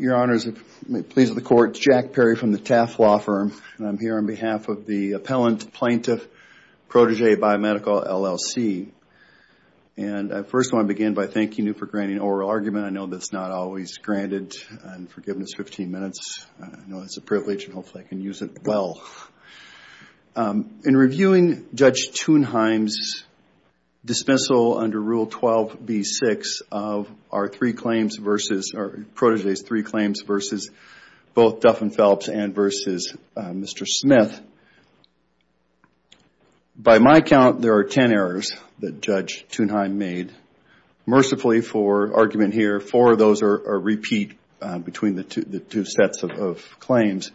Your Honors, it pleases the Court, it's Jack Perry from the Taft Law Firm and I'm here on behalf of the Appellant Plaintiff Protégé Biomedical, LLC. And I first want to begin by thanking you for granting oral argument. I know that's not always granted and forgiveness after 15 minutes. I know it's a privilege and hopefully I can use it well. In reviewing Judge Thunheim's dismissal under Rule 12B6 of our three claims versus, or Protégé's three claims versus both Duff & Phelps and versus Mr. Smith, by my count there are ten errors that Judge Thunheim made. Mercifully for argument here, four of those are repeat between the two sets of claims.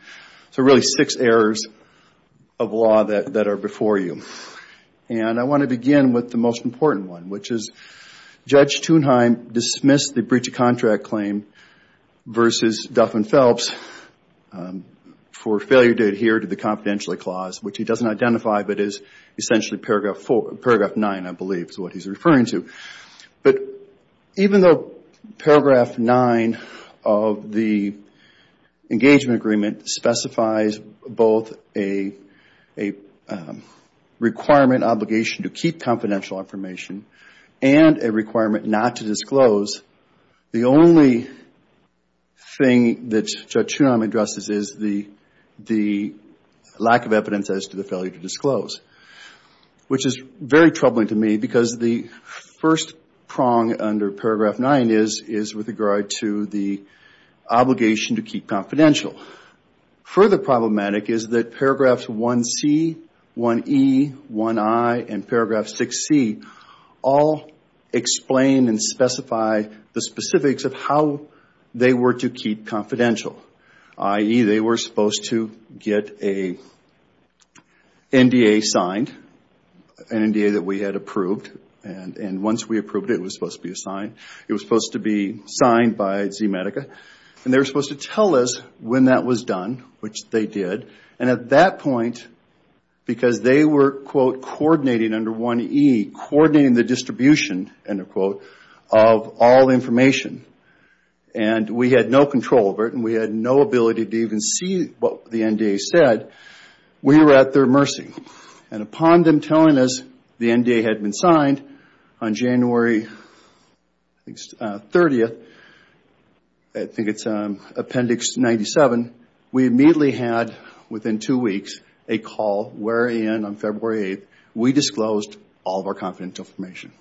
So really six errors of law that are before you. And I want to begin with the most important one, which is Judge Thunheim dismissed the breach of contract claim versus Duff & Phelps for failure to adhere to the confidentiality clause, which he doesn't identify but is essentially paragraph 9, I believe is what he's referring to. But even though paragraph 9 of the engagement agreement specifies both a requirement obligation to keep confidential information and a requirement not to disclose, the only thing that Judge Thunheim addresses is the lack of evidence as to the failure to disclose, which is very important. The first prong under paragraph 9 is with regard to the obligation to keep confidential. Further problematic is that paragraphs 1C, 1E, 1I and paragraph 6C all explain and specify the specifics of how they were to keep confidential, i.e. they were And once we approved it, it was supposed to be signed. It was supposed to be signed by ZMedica. And they were supposed to tell us when that was done, which they did. And at that point, because they were, quote, coordinating under 1E, coordinating the distribution, end of quote, of all information, and we had no control over it and we had no ability to even see what the NDA said, we were at their mercy. And upon them telling us the NDA had been signed on January 30th, I think it's Appendix 97, we immediately had within two weeks a call wherein on February 8th, we disclosed all of our confidential information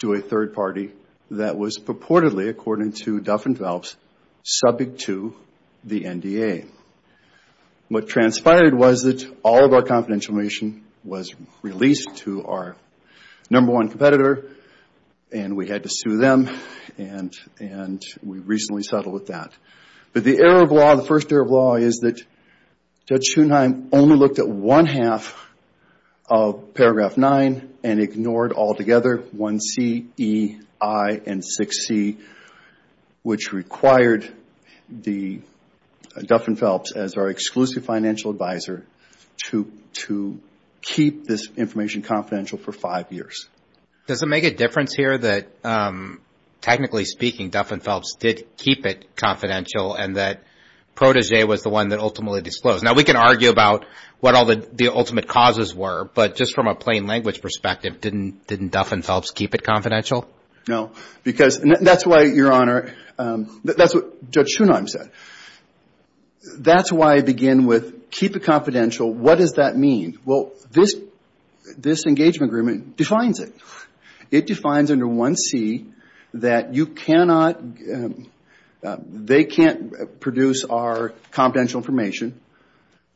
to a third party that was purportedly, according to Duff and Phelps, subject to the NDA. What transpired was that all of our confidential information was released to our number one competitor and we had to sue them and we recently settled with that. But the error of law, the first error of law is that Judge Schoenheim only looked at one half of paragraph 9 and ignored all together 1C, E, I and 6C, which required Duff and Phelps as our exclusive financial advisor to keep this information confidential for five years. Does it make a difference here that technically speaking, Duff and Phelps did keep it confidential and that Protege was the one that ultimately disclosed? Now, we can argue about what all the ultimate causes were, but just from a plain language perspective, didn't Duff and Phelps keep it confidential? No, because that's why, Your Honor, that's what Judge Schoenheim said. That's why I begin with keep it confidential. What does that mean? This engagement agreement defines it. It defines under 1C that they can't produce our confidential information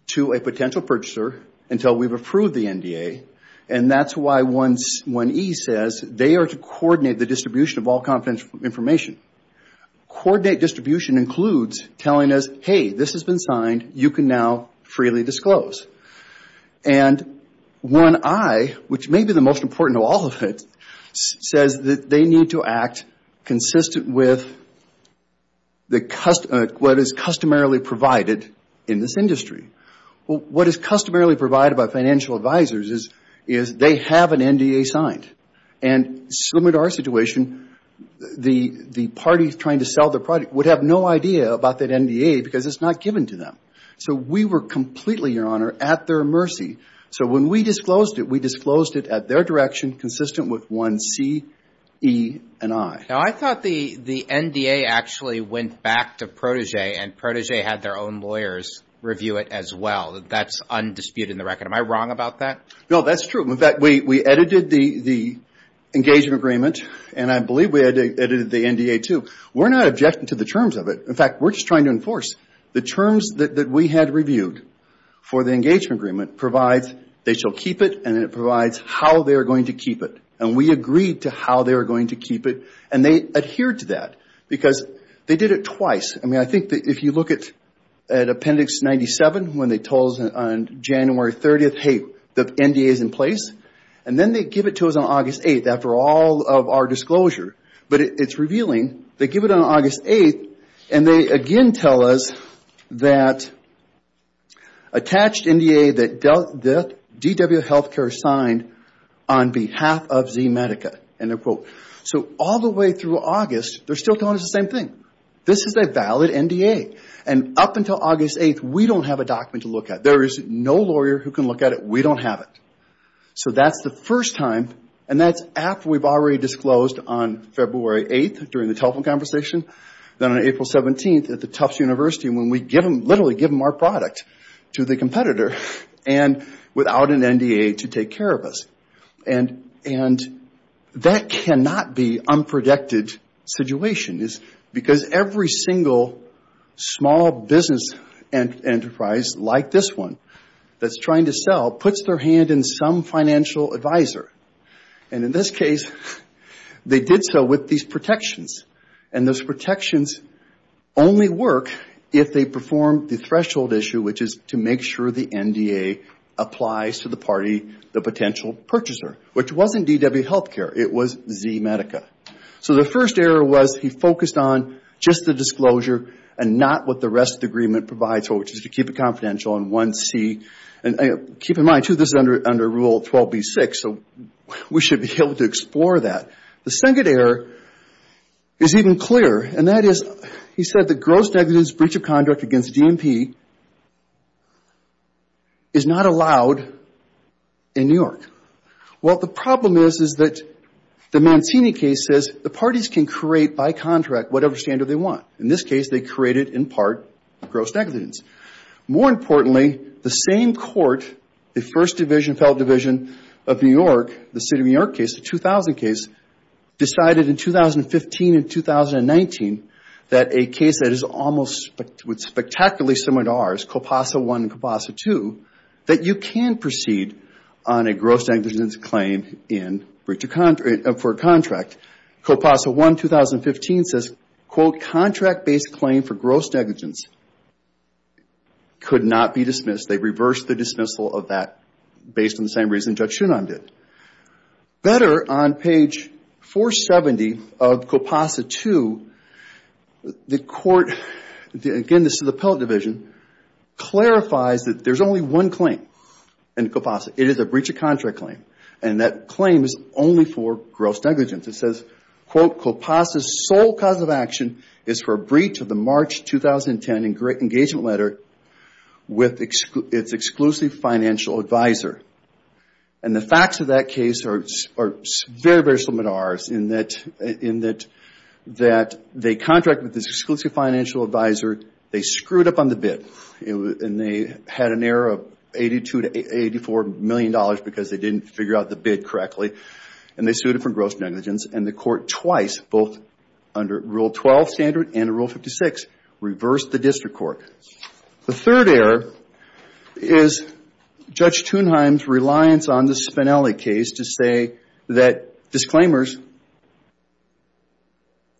to a potential purchaser until we've approved the NDA and that's why 1E says they are to coordinate the distribution of all confidential information. Coordinate distribution includes telling us, hey, this has been signed. You can now freely disclose. 1I, which may be the most important of all of it, says that they need to act consistent with what is customarily provided in this industry. What is customarily provided by financial advisors is they have an NDA signed. Similar to our situation, the parties trying to sell the product would have no idea about that NDA because it's not given to them. So we were completely, Your Honor, at their mercy. So when we disclosed it, we disclosed it at their direction consistent with 1C, E, and I. Now, I thought the NDA actually went back to Protégé and Protégé had their own lawyers review it as well. That's undisputed in the record. Am I wrong about that? No, that's true. In fact, we edited the engagement agreement and I believe we edited the NDA too. We're not objecting to the terms of it. In fact, we're just trying to enforce the terms that we had reviewed for the engagement agreement provides they shall keep it and it provides how they are going to keep it. We agreed to how they are going to keep it and they adhered to that because they did it twice. I think that if you look at Appendix 97 when they told us on January 30, hey, the NDA is in place, and then they give it to us on August 8 after all of our disclosure, but it's revealing they give it on August 8 and they again tell us that attached NDA that DW Healthcare signed on behalf of ZMedica. All the way through August, they're still telling us the same thing. This is a valid NDA. Up until August 8, we don't have a document to look at. There is no lawyer who can look at it. We don't have it. That's the first time and that's after we've already disclosed on February 8 during the telephone conversation, then on April 17 at the Tufts University when we literally give them our product to the competitor and without an NDA to take care of us. That cannot be an unprojected situation because every single small business enterprise like this one that's trying to sell puts their hand in some financial advisor. In this case, they did so with these protections. Those protections only work if they perform the threshold issue, which is to make sure the NDA applies to the party, the potential purchaser, which wasn't DW Healthcare. It was ZMedica. The first error was he focused on just the disclosure and not what the rest of the agreement provides for, which is to keep it confidential on 1C. Keep in mind, too, this is under Rule 12b-6, so we should be able to explore that. The second error is even clearer and that is he said the gross negligence breach of contract against DMP is not allowed in New York. Well, the problem is that the Mancini case says the parties can create by contract whatever standard they want. In this case, they created in part gross negligence. More importantly, the same court, the First Division, Federal Division of New York, the City of New York case, the 2000 case, decided in 2015 and 2019 that a case that is almost spectacularly similar to ours, COPASA I and COPASA II, that you can proceed on a gross negligence claim for a contract, COPASA I, 2015, says, quote, contract-based claim for gross negligence could not be dismissed. They reversed the dismissal of that based on the same reason Judge Schoonheim did. Better, on page 470 of COPASA II, the court, again, this is the Appellate Division, clarifies that there is only one claim in COPASA. It is a breach of contract claim and that claim is only for gross negligence. It says, quote, COPASA's sole cause of action is for a breach of the March 2010 engagement letter with its exclusive financial advisor. The facts of that case are very similar to ours in that they contracted with this exclusive financial advisor. They screwed up on the bid. They had an error of $82 to $84 million because they didn't figure out the bid correctly and they sued it for gross negligence and the court twice, both under Rule 12 standard and Rule 56, reversed the district court. The third error is Judge Schoonheim's reliance on the Spinelli case to say that disclaimers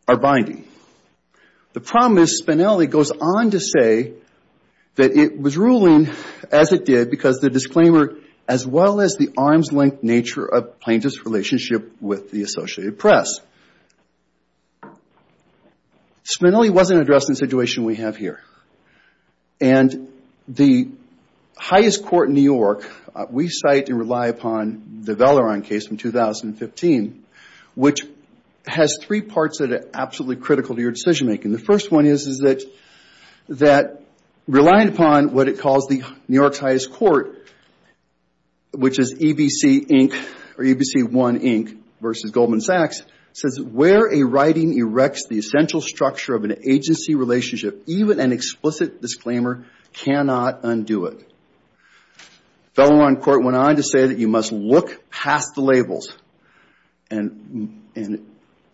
are binding. The problem is Spinelli goes on to say that it was ruling as it did because the disclaimer, as well as the arm's length nature of plaintiff's relationship with the Associated Press. Spinelli wasn't addressed in the situation we have here. And the highest court in New York, we cite and rely upon the Valeron case from 2015, which has three parts that are absolutely critical to your decision making. The first reliant upon what it calls the New York's highest court, which is EBC Inc. or EBC 1 Inc. versus Goldman Sachs, says where a writing erects the essential structure of an agency relationship even an explicit disclaimer cannot undo it. Valeron court went on to say that you must look past the labels and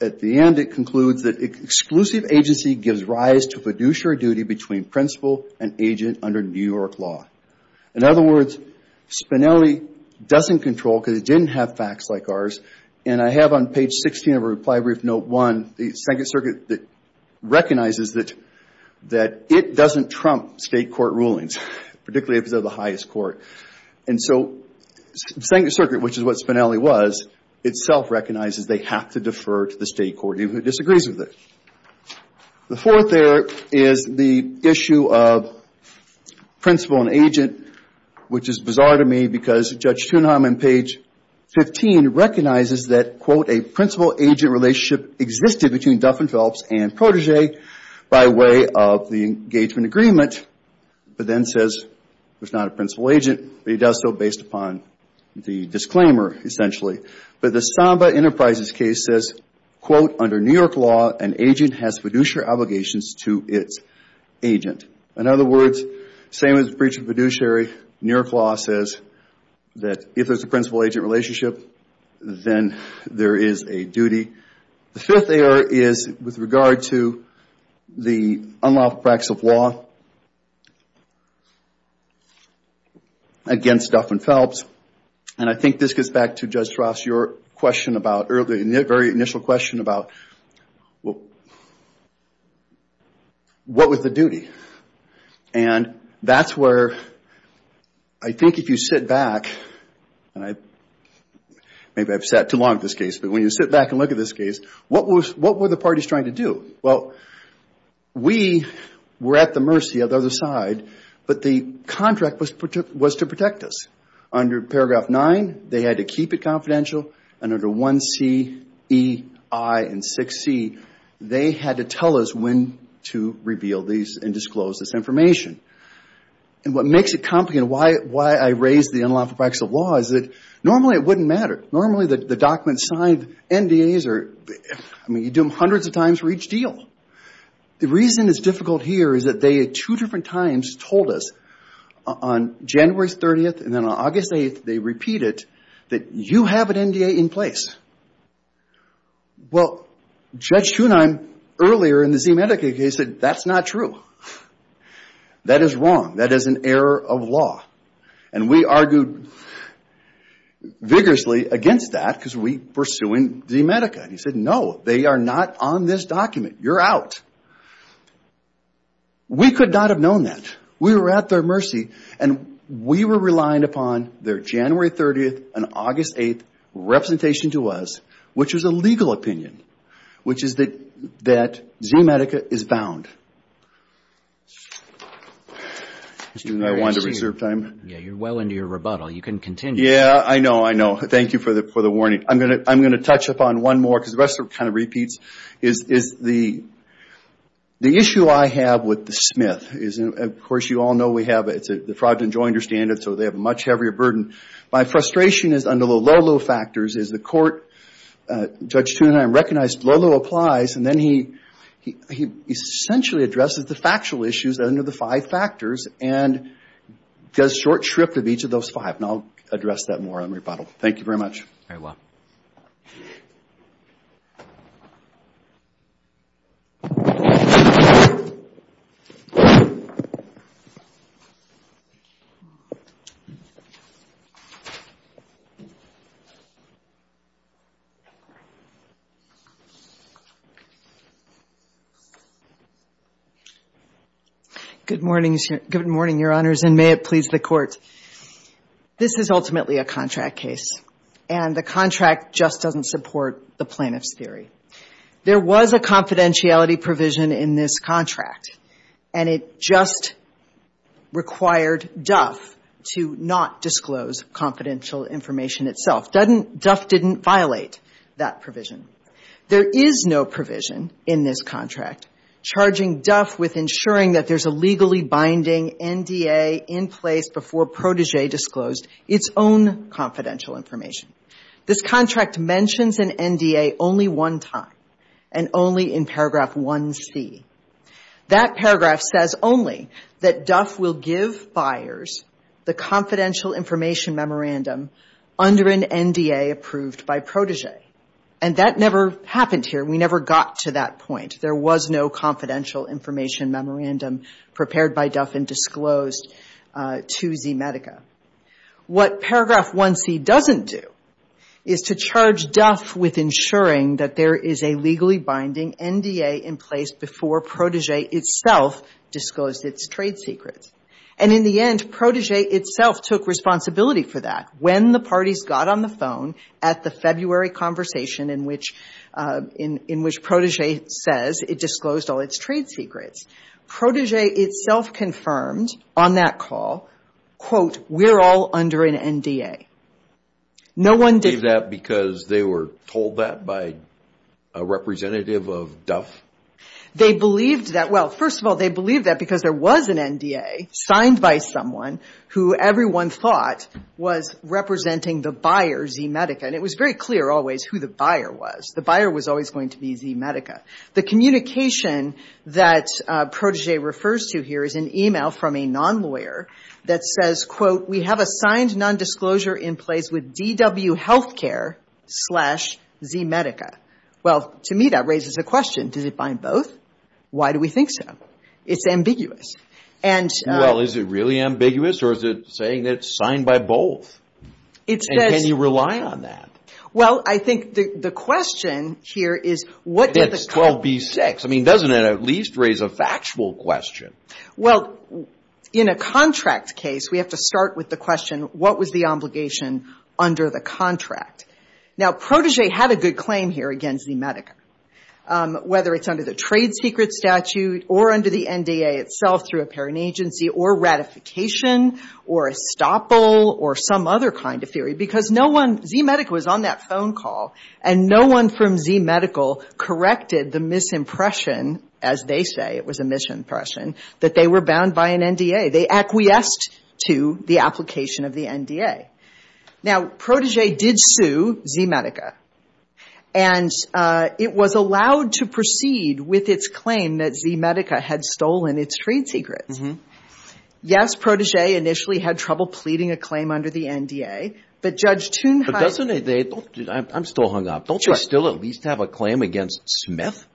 at the end it concludes that exclusive agency gives rise to fiduciary duty between principal and agent under New York law. In other words, Spinelli doesn't control because it didn't have facts like ours. And I have on page 16 of our reply brief note one, the Second Circuit recognizes that it doesn't trump state court rulings, particularly if they're the highest court. And so the Second Circuit, which is what Spinelli was, itself recognizes they have to defer to the state court even if it disagrees with it. The fourth there is the issue of principal and agent, which is bizarre to me because Judge Thunheim on page 15 recognizes that, quote, a principal-agent relationship existed between Duff and Phelps and Protégé by way of the engagement agreement, but then says it's not a principal-agent, but he does so based upon the disclaimer essentially. But the Samba Enterprises case says, quote, under New York law, an agent has fiduciary obligations to its agent. In other words, same as breach of fiduciary, New York law says that if there's a principal-agent relationship, then there is a duty. The fifth error is with regard to the unlawful practice of law against Duff and Phelps. And I think this gets back to your question about, the very initial question about, what was the duty? And that's where I think if you sit back, and maybe I've sat too long on this case, but when you sit back and look at this case, what were the parties trying to do? Well, we were at the mercy of the other side, but the contract was to protect us. Under paragraph 9, they had to keep it and under 1C, E, I, and 6C, they had to tell us when to reveal these and disclose this information. And what makes it complicated, why I raised the unlawful practice of law is that normally it wouldn't matter. Normally, the documents signed, NDAs, I mean, you do them hundreds of times for each deal. The reason it's difficult here is that they at two different times told us on January 30th and then on August 8th, they repeat it, that you have an NDA in place. Well, Judge Schoenheim earlier in the ZMedica case said, that's not true. That is wrong. That is an error of law. And we argued vigorously against that because we were suing ZMedica. He said, no, they are not on this document. You're out. We could not have known that. We were at their mercy and we were relying upon their January 30th and August 8th representation to us, which was a legal opinion, which is that ZMedica is bound. Excuse me, I wanted to reserve time. Yeah, you're well into your rebuttal. You can continue. Yeah, I know, I know. Thank you for the warning. I'm going to touch upon one more because the rest are kind of repeats. The issue I have with the Smith is, of course, you all know we have the fraud and joy understand it, so they have a much heavier burden. My frustration is under the low, low factors is the court, Judge Schoenheim, recognized low, low applies and then he essentially addresses the factual issues under the five factors and does short shrift of each of those five. And I'll address that more on rebuttal. Thank you very much. Very well. Good morning, Your Honors, and may it please the Court. This is ultimately a contract case and the contract just doesn't support the plaintiff's theory. There was a confidentiality provision in this contract and it just required Duff to not disclose confidential information itself. Duff didn't violate that provision. There is no provision in this contract charging Duff with ensuring that there's a legally binding NDA in place before protege disclosed its own confidential information. This contract mentions an NDA only one time and only in paragraph 1C. That paragraph says only that Duff will give buyers the confidential information memorandum under an NDA approved by protege. And that never happened here. We never got to that point. There was no confidential information memorandum prepared by Duff and disclosed to ZMedica. What paragraph 1C doesn't do is to charge Duff with ensuring that there is a legally binding NDA in place before protege itself disclosed its trade secrets. And in the end, protege itself took responsibility for that when the parties got on the phone at the February conversation in which protege says it disclosed all its trade secrets. Protege itself confirmed on that call, quote, we're all under an NDA. No one did that because they were told that by a representative of Duff? They believed that. Well, first of all, they believed that because there was an NDA signed by someone who everyone thought was representing the buyer, ZMedica. And it was very clear always who the buyer was. The buyer was always going to be ZMedica. The communication that protege refers to here is an email from a non-lawyer that says, quote, we have a signed non-disclosure in place with DW Healthcare slash ZMedica. Well, to me that raises a question. Does it bind both? Why do we think so? It's ambiguous. Well, is it really ambiguous or is it saying it's signed by both? And can you rely on that? Well, I think the question here is what does the contract... It's 12B6. I mean, doesn't it at least raise a factual question? Well, in a contract case, we have to start with the question, what was the obligation under the contract? Now, protege had a good claim here against ZMedica, whether it's under the trade secret statute or under the NDA itself through a parent agency or ratification or estoppel or some other kind of theory, because no one... ZMedica was on that phone call and no one from ZMedical corrected the misimpression, as they say, it was a misimpression, that they were bound by an NDA. They acquiesced to the application of the NDA. Now, protege did sue ZMedica. And it was allowed to proceed with its claim that ZMedica had a claim. Now, protege initially had trouble pleading a claim under the NDA, but Judge Thunheim... But doesn't they... I'm still hung up. Don't they still at least have a claim against Smith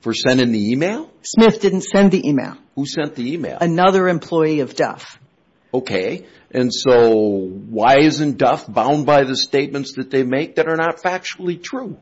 for sending the email? Smith didn't send the email. Who sent the email? Another employee of Duff. Okay. And so why isn't Duff bound by the statements that they make that are not factually true?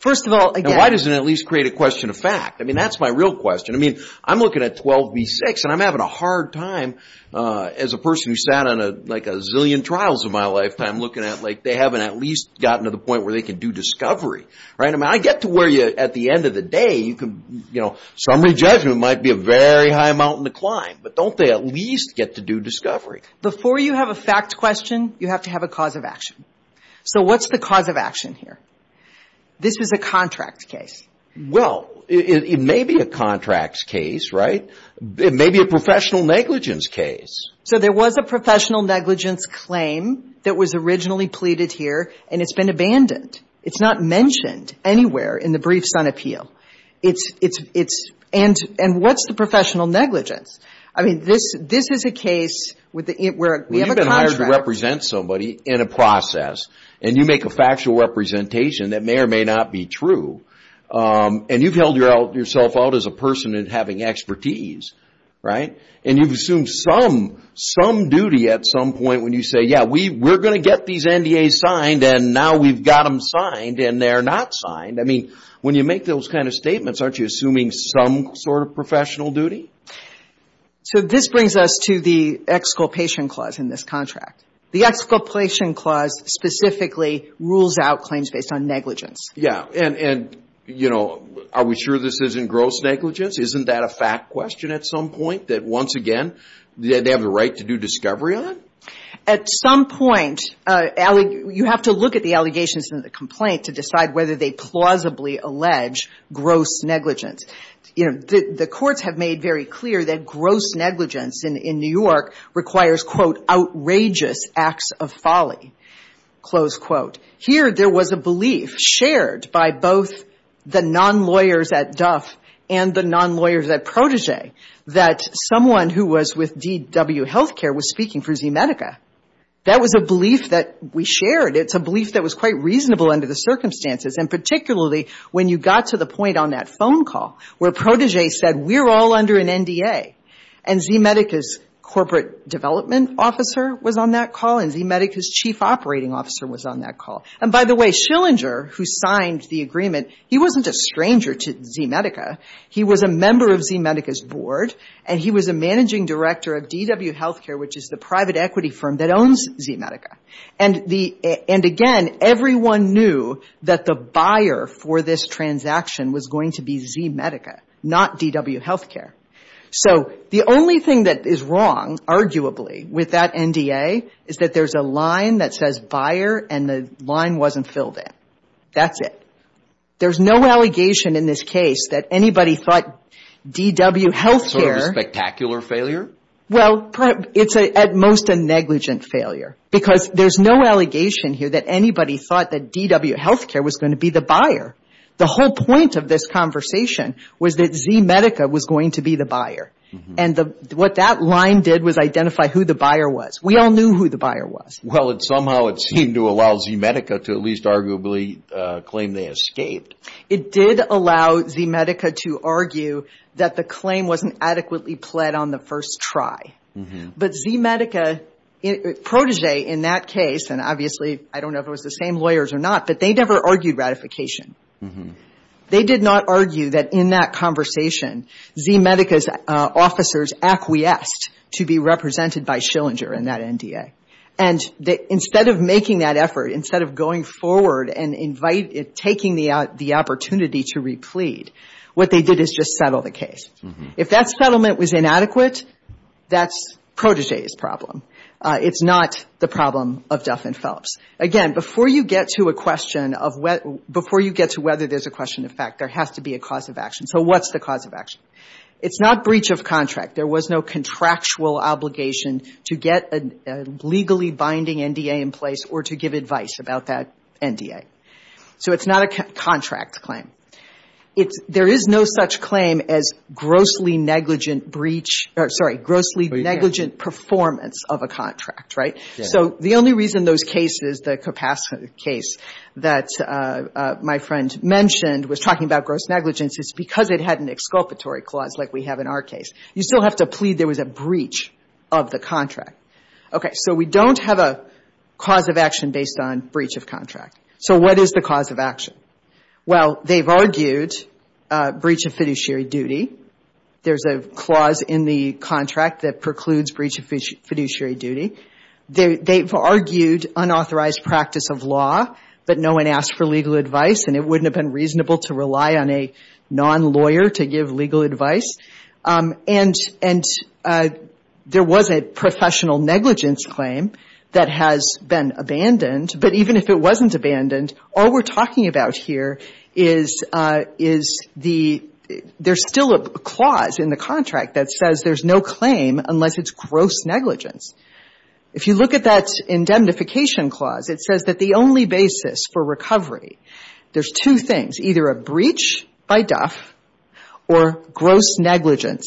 First of all, again... Now, why doesn't it at least create a question of fact? I mean, that's my real question. I mean, I'm looking at 12 v. 6, and I'm having a hard time as a person who sat on like a zillion trials in my lifetime looking at, like, they haven't at least gotten to the point where they can do discovery, right? I mean, I get to where you, at the end of the day, you can, you know, summary judgment might be a very high mountain to climb, but don't they at least get to do discovery? Before you have a fact question, you have to have a cause of action. So what's the cause of action here? This was a contract case. Well, it may be a contract case, right? It may be a professional negligence case. So there was a professional negligence claim that was originally pleaded here, and it's been abandoned. It's not mentioned anywhere in the briefs on appeal. It's... And what's the professional negligence? I mean, this is a case where we have a contract... Well, you've been hired to represent somebody in a process, and you make a factual representation that may or may not be true, and you've held yourself out as a person in having expertise, right? And you've assumed some duty at some point when you say, yeah, we're going to get these NDAs signed, and now we've got them signed, and they're not signed. I mean, when you make those kind of statements, aren't you assuming some sort of professional duty? So this brings us to the exculpation clause in this contract. The exculpation clause specifically rules out claims based on negligence. Yeah. And, you know, are we sure this isn't gross negligence? Isn't that a fact question at some point that, once again, they have the right to do discovery on? At some point, you have to look at the allegations in the complaint to decide whether they plausibly allege gross negligence. You know, the courts have made very clear that gross negligence in New York requires, quote, outrageous acts of folly, close quote. Here, there was a belief shared by both the non-lawyers at Duff and the non-lawyers at Protege that someone who was with DW Healthcare was speaking for ZMedica. That was a belief that we shared. It's a belief that was quite reasonable under the circumstances, and particularly when you got to the point on that phone call where Protege said, we're all under an NDA, and ZMedica's corporate development officer was on that call and ZMedica's chief operating officer was on that call. And, by the way, Schillinger, who signed the agreement, he wasn't a stranger to ZMedica. He was a member of ZMedica's board, and he was a managing director of DW Healthcare, which is the private equity firm that owns ZMedica. And, again, everyone knew that the company was going to be ZMedica, not DW Healthcare. So the only thing that is wrong, arguably, with that NDA is that there's a line that says buyer, and the line wasn't filled in. That's it. There's no allegation in this case that anybody thought DW Healthcare was going to be the buyer. The whole point of this conversation was that ZMedica was going to be the buyer. And what that line did was identify who the buyer was. We all knew who the buyer was. Well, somehow it seemed to allow ZMedica to at least arguably claim they escaped. It did allow ZMedica to argue that the claim wasn't adequately pled on the first try. But ZMedica, Protege, in that case, and obviously, I don't know if it was the same lawyers or not, but they never argued ratification. They did not argue that in that conversation, ZMedica's officers acquiesced to be represented by Schillinger in that NDA. And instead of making that effort, instead of going forward and taking the opportunity to replead, what they did is just settle the case. If that settlement was inadequate, that's enough in Phillips. Again, before you get to a question of whether there's a question of fact, there has to be a cause of action. So what's the cause of action? It's not breach of contract. There was no contractual obligation to get a legally binding NDA in place or to give advice about that NDA. So it's not a contract claim. There is no such claim as grossly negligent performance of a contract, right? So the only reason those cases, the Capasso case that my friend mentioned was talking about gross negligence is because it had an exculpatory clause like we have in our case. You still have to plead there was a breach of the contract. Okay. So we don't have a cause of action based on breach of contract. So what is the cause of action? Well, they've argued breach of fiduciary duty. There's a clause in the contract that precludes breach of fiduciary duty. They've argued unauthorized practice of law, but no one asked for legal advice, and it wouldn't have been reasonable to rely on a non-lawyer to give legal advice. And there was a professional negligence claim that has been abandoned. But even if it wasn't abandoned, all we're talking about here is the — there's still a clause in the contract that says there's no claim unless it's gross negligence. If you look at that indemnification clause, it says that the only basis for recovery, there's two things, either a breach by Duff or gross negligence,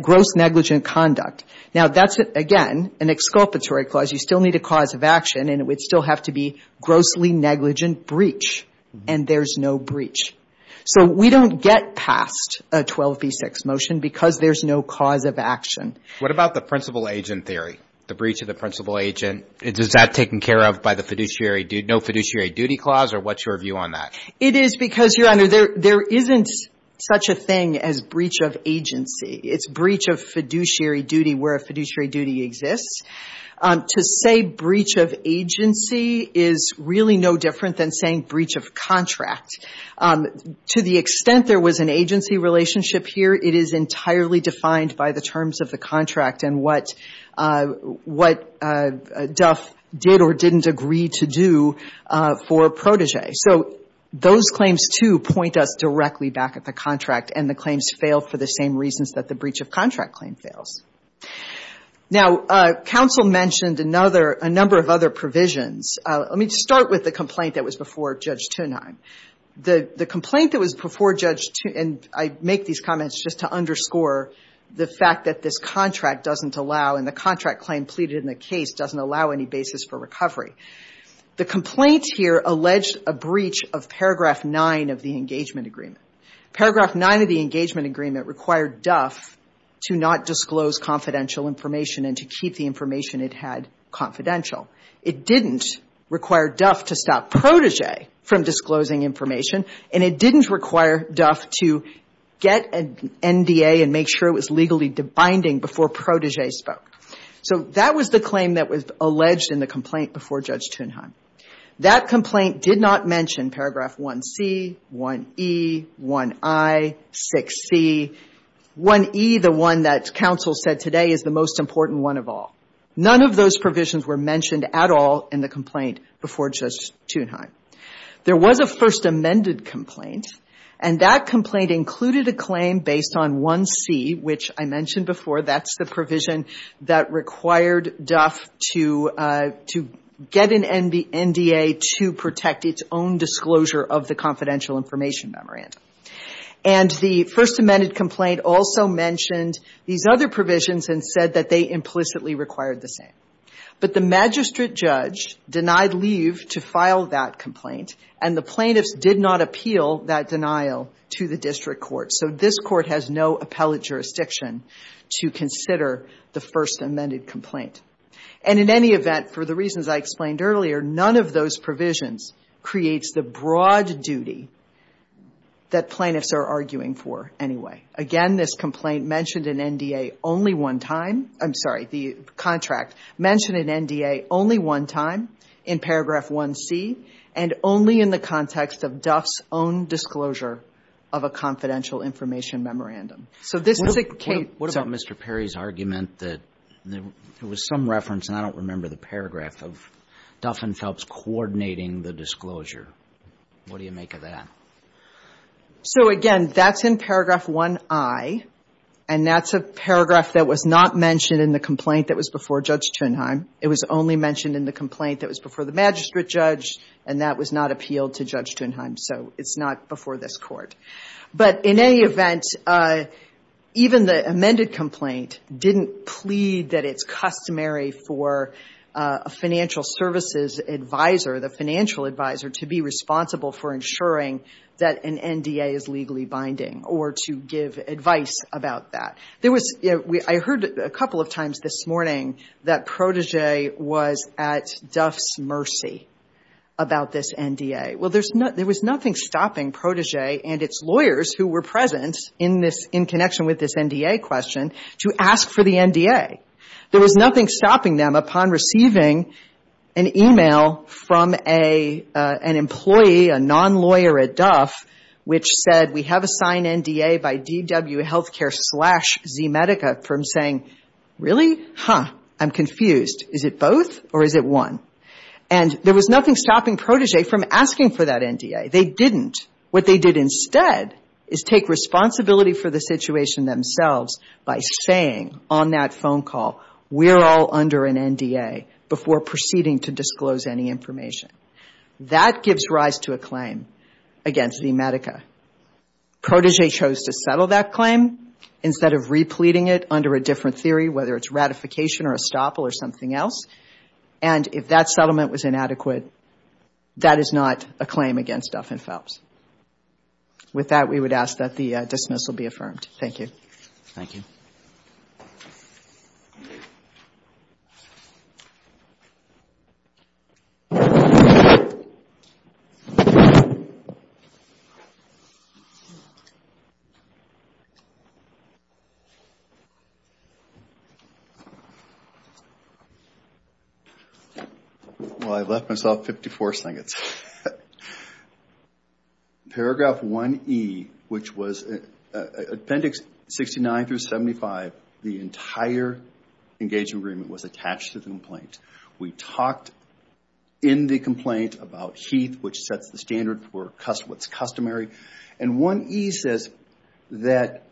gross negligent conduct. Now that's, again, an exculpatory clause. You still need a cause of action, and it would still have to be grossly negligent breach, and there's no breach. So we don't get past a 12b6 motion because there's no cause of action. What about the principal agent theory, the breach of the principal agent? Is that taken care of by the fiduciary — no fiduciary duty clause, or what's your view on that? It is because, Your Honor, there isn't such a thing as breach of agency. It's breach of fiduciary duty where a fiduciary duty exists. To say breach of agency is really no different than saying breach of contract. To the extent there was an agency relationship here, it is entirely defined by the terms of the contract and what Duff did or didn't agree to do for protege. So those claims, too, point us directly back at the contract, and the claims fail for the same reasons that the breach of contract claim fails. Now, counsel mentioned another — a number of other provisions. Let me start with the complaint that was before Judge Tunheim. The complaint that was before Judge — and I make these comments just to underscore the fact that this contract doesn't allow, and the contract claim pleaded in the case doesn't allow any basis for recovery. The complaint here alleged a breach of paragraph 9 of the engagement agreement. Paragraph 9 of the engagement agreement required Duff to not disclose confidential information and to keep the information it had confidential. It didn't require Duff to stop protege from disclosing information, and it didn't require Duff to get an NDA and make sure it was legally binding before protege spoke. So that was the claim that was alleged in the complaint before Judge Tunheim. That the — 1E, the one that counsel said today, is the most important one of all. None of those provisions were mentioned at all in the complaint before Judge Tunheim. There was a First Amendment complaint, and that complaint included a claim based on 1C, which I mentioned before. That's the provision that required Duff to get an NDA to protect its own disclosure of the confidential information memorandum. And the First Amendment complaint also mentioned these other provisions and said that they implicitly required the same. But the magistrate judge denied leave to file that complaint, and the plaintiffs did not appeal that denial to the district court. So this court has no appellate jurisdiction to consider the First Amendment complaint. And in any event, for the reasons I explained earlier, none of those provisions creates the broad duty that plaintiffs are arguing for anyway. Again, this complaint mentioned an NDA only one time — I'm sorry, the contract mentioned an NDA only one time in paragraph 1C, and only in the context of Duff's own disclosure of a confidential information memorandum. So this is a case — I have some reference, and I don't remember the paragraph, of Duff and Phelps coordinating the disclosure. What do you make of that? So, again, that's in paragraph 1I, and that's a paragraph that was not mentioned in the complaint that was before Judge Tunheim. It was only mentioned in the complaint that was before the magistrate judge, and that was not appealed to Judge Tunheim. So it's not before this court. But in any event, even the amended complaint didn't plead that it's customary for a financial services advisor, the financial advisor, to be responsible for ensuring that an NDA is legally binding, or to give advice about that. There was — I heard a couple of times this morning that Protégé was at Duff's mercy about this NDA. Well, there was nothing stopping Protégé and its lawyers who were present in this — in connection with this NDA question to ask for the NDA. There was nothing stopping them upon receiving an e-mail from an employee, a non-lawyer at Duff, which said, we have assigned NDA by DW Healthcare slash ZMedica, from saying, really? Huh. I'm confused. Is it both, or is it one? And there was nothing stopping Protégé from asking for that NDA. They didn't. What they did instead is take responsibility for the situation themselves by saying on that phone call, we're all under an NDA before proceeding to disclose any information. That gives rise to a claim against ZMedica. Protégé chose to settle that claim instead of repleting it under a different theory, whether it's ratification or estoppel or something else. And if that settlement was inadequate, that is not a claim against Duff and Phelps. With that, we would ask that the dismissal be affirmed. Thank you. Thank you. Well, I left myself 54 seconds. Paragraph 1E, which was appendix C, 69 through 75, the entire engagement agreement was attached to the complaint. We talked in the complaint about HEATH, which sets the standard for what's customary. And 1E says that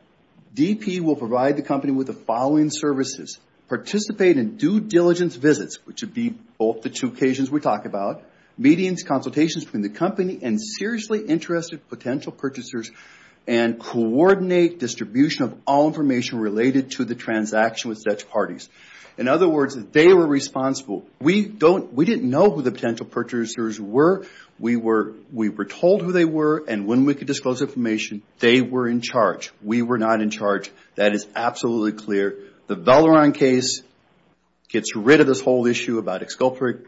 DP will provide the company with the following services. Participate in due diligence visits, which would be both the two occasions we talk about. Meetings, consultations between the company and seriously interested potential purchasers. And coordinate distribution of all information related to the transaction with Dutch parties. In other words, they were responsible. We didn't know who the potential purchasers were. We were told who they were, and when we could disclose information, they were in charge. We were not in charge. That is absolutely clear. The Valoran case gets rid of this whole issue about exculpatory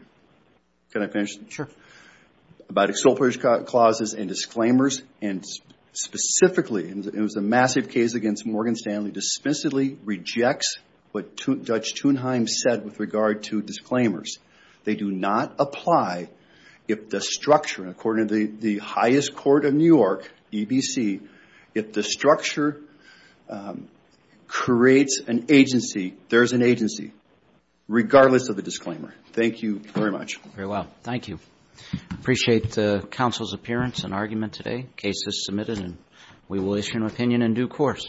clauses and disclaimers. And specifically, it was a massive case against Morgan Stanley, dispensably rejects what Dutch Thunheim said with regard to disclaimers. They do not apply if the structure, according to the highest court of New York, EBC, if the structure creates an agency, there's an agency, regardless of the disclaimer. Thank you very much. The case is submitted, and we will issue an opinion in due course.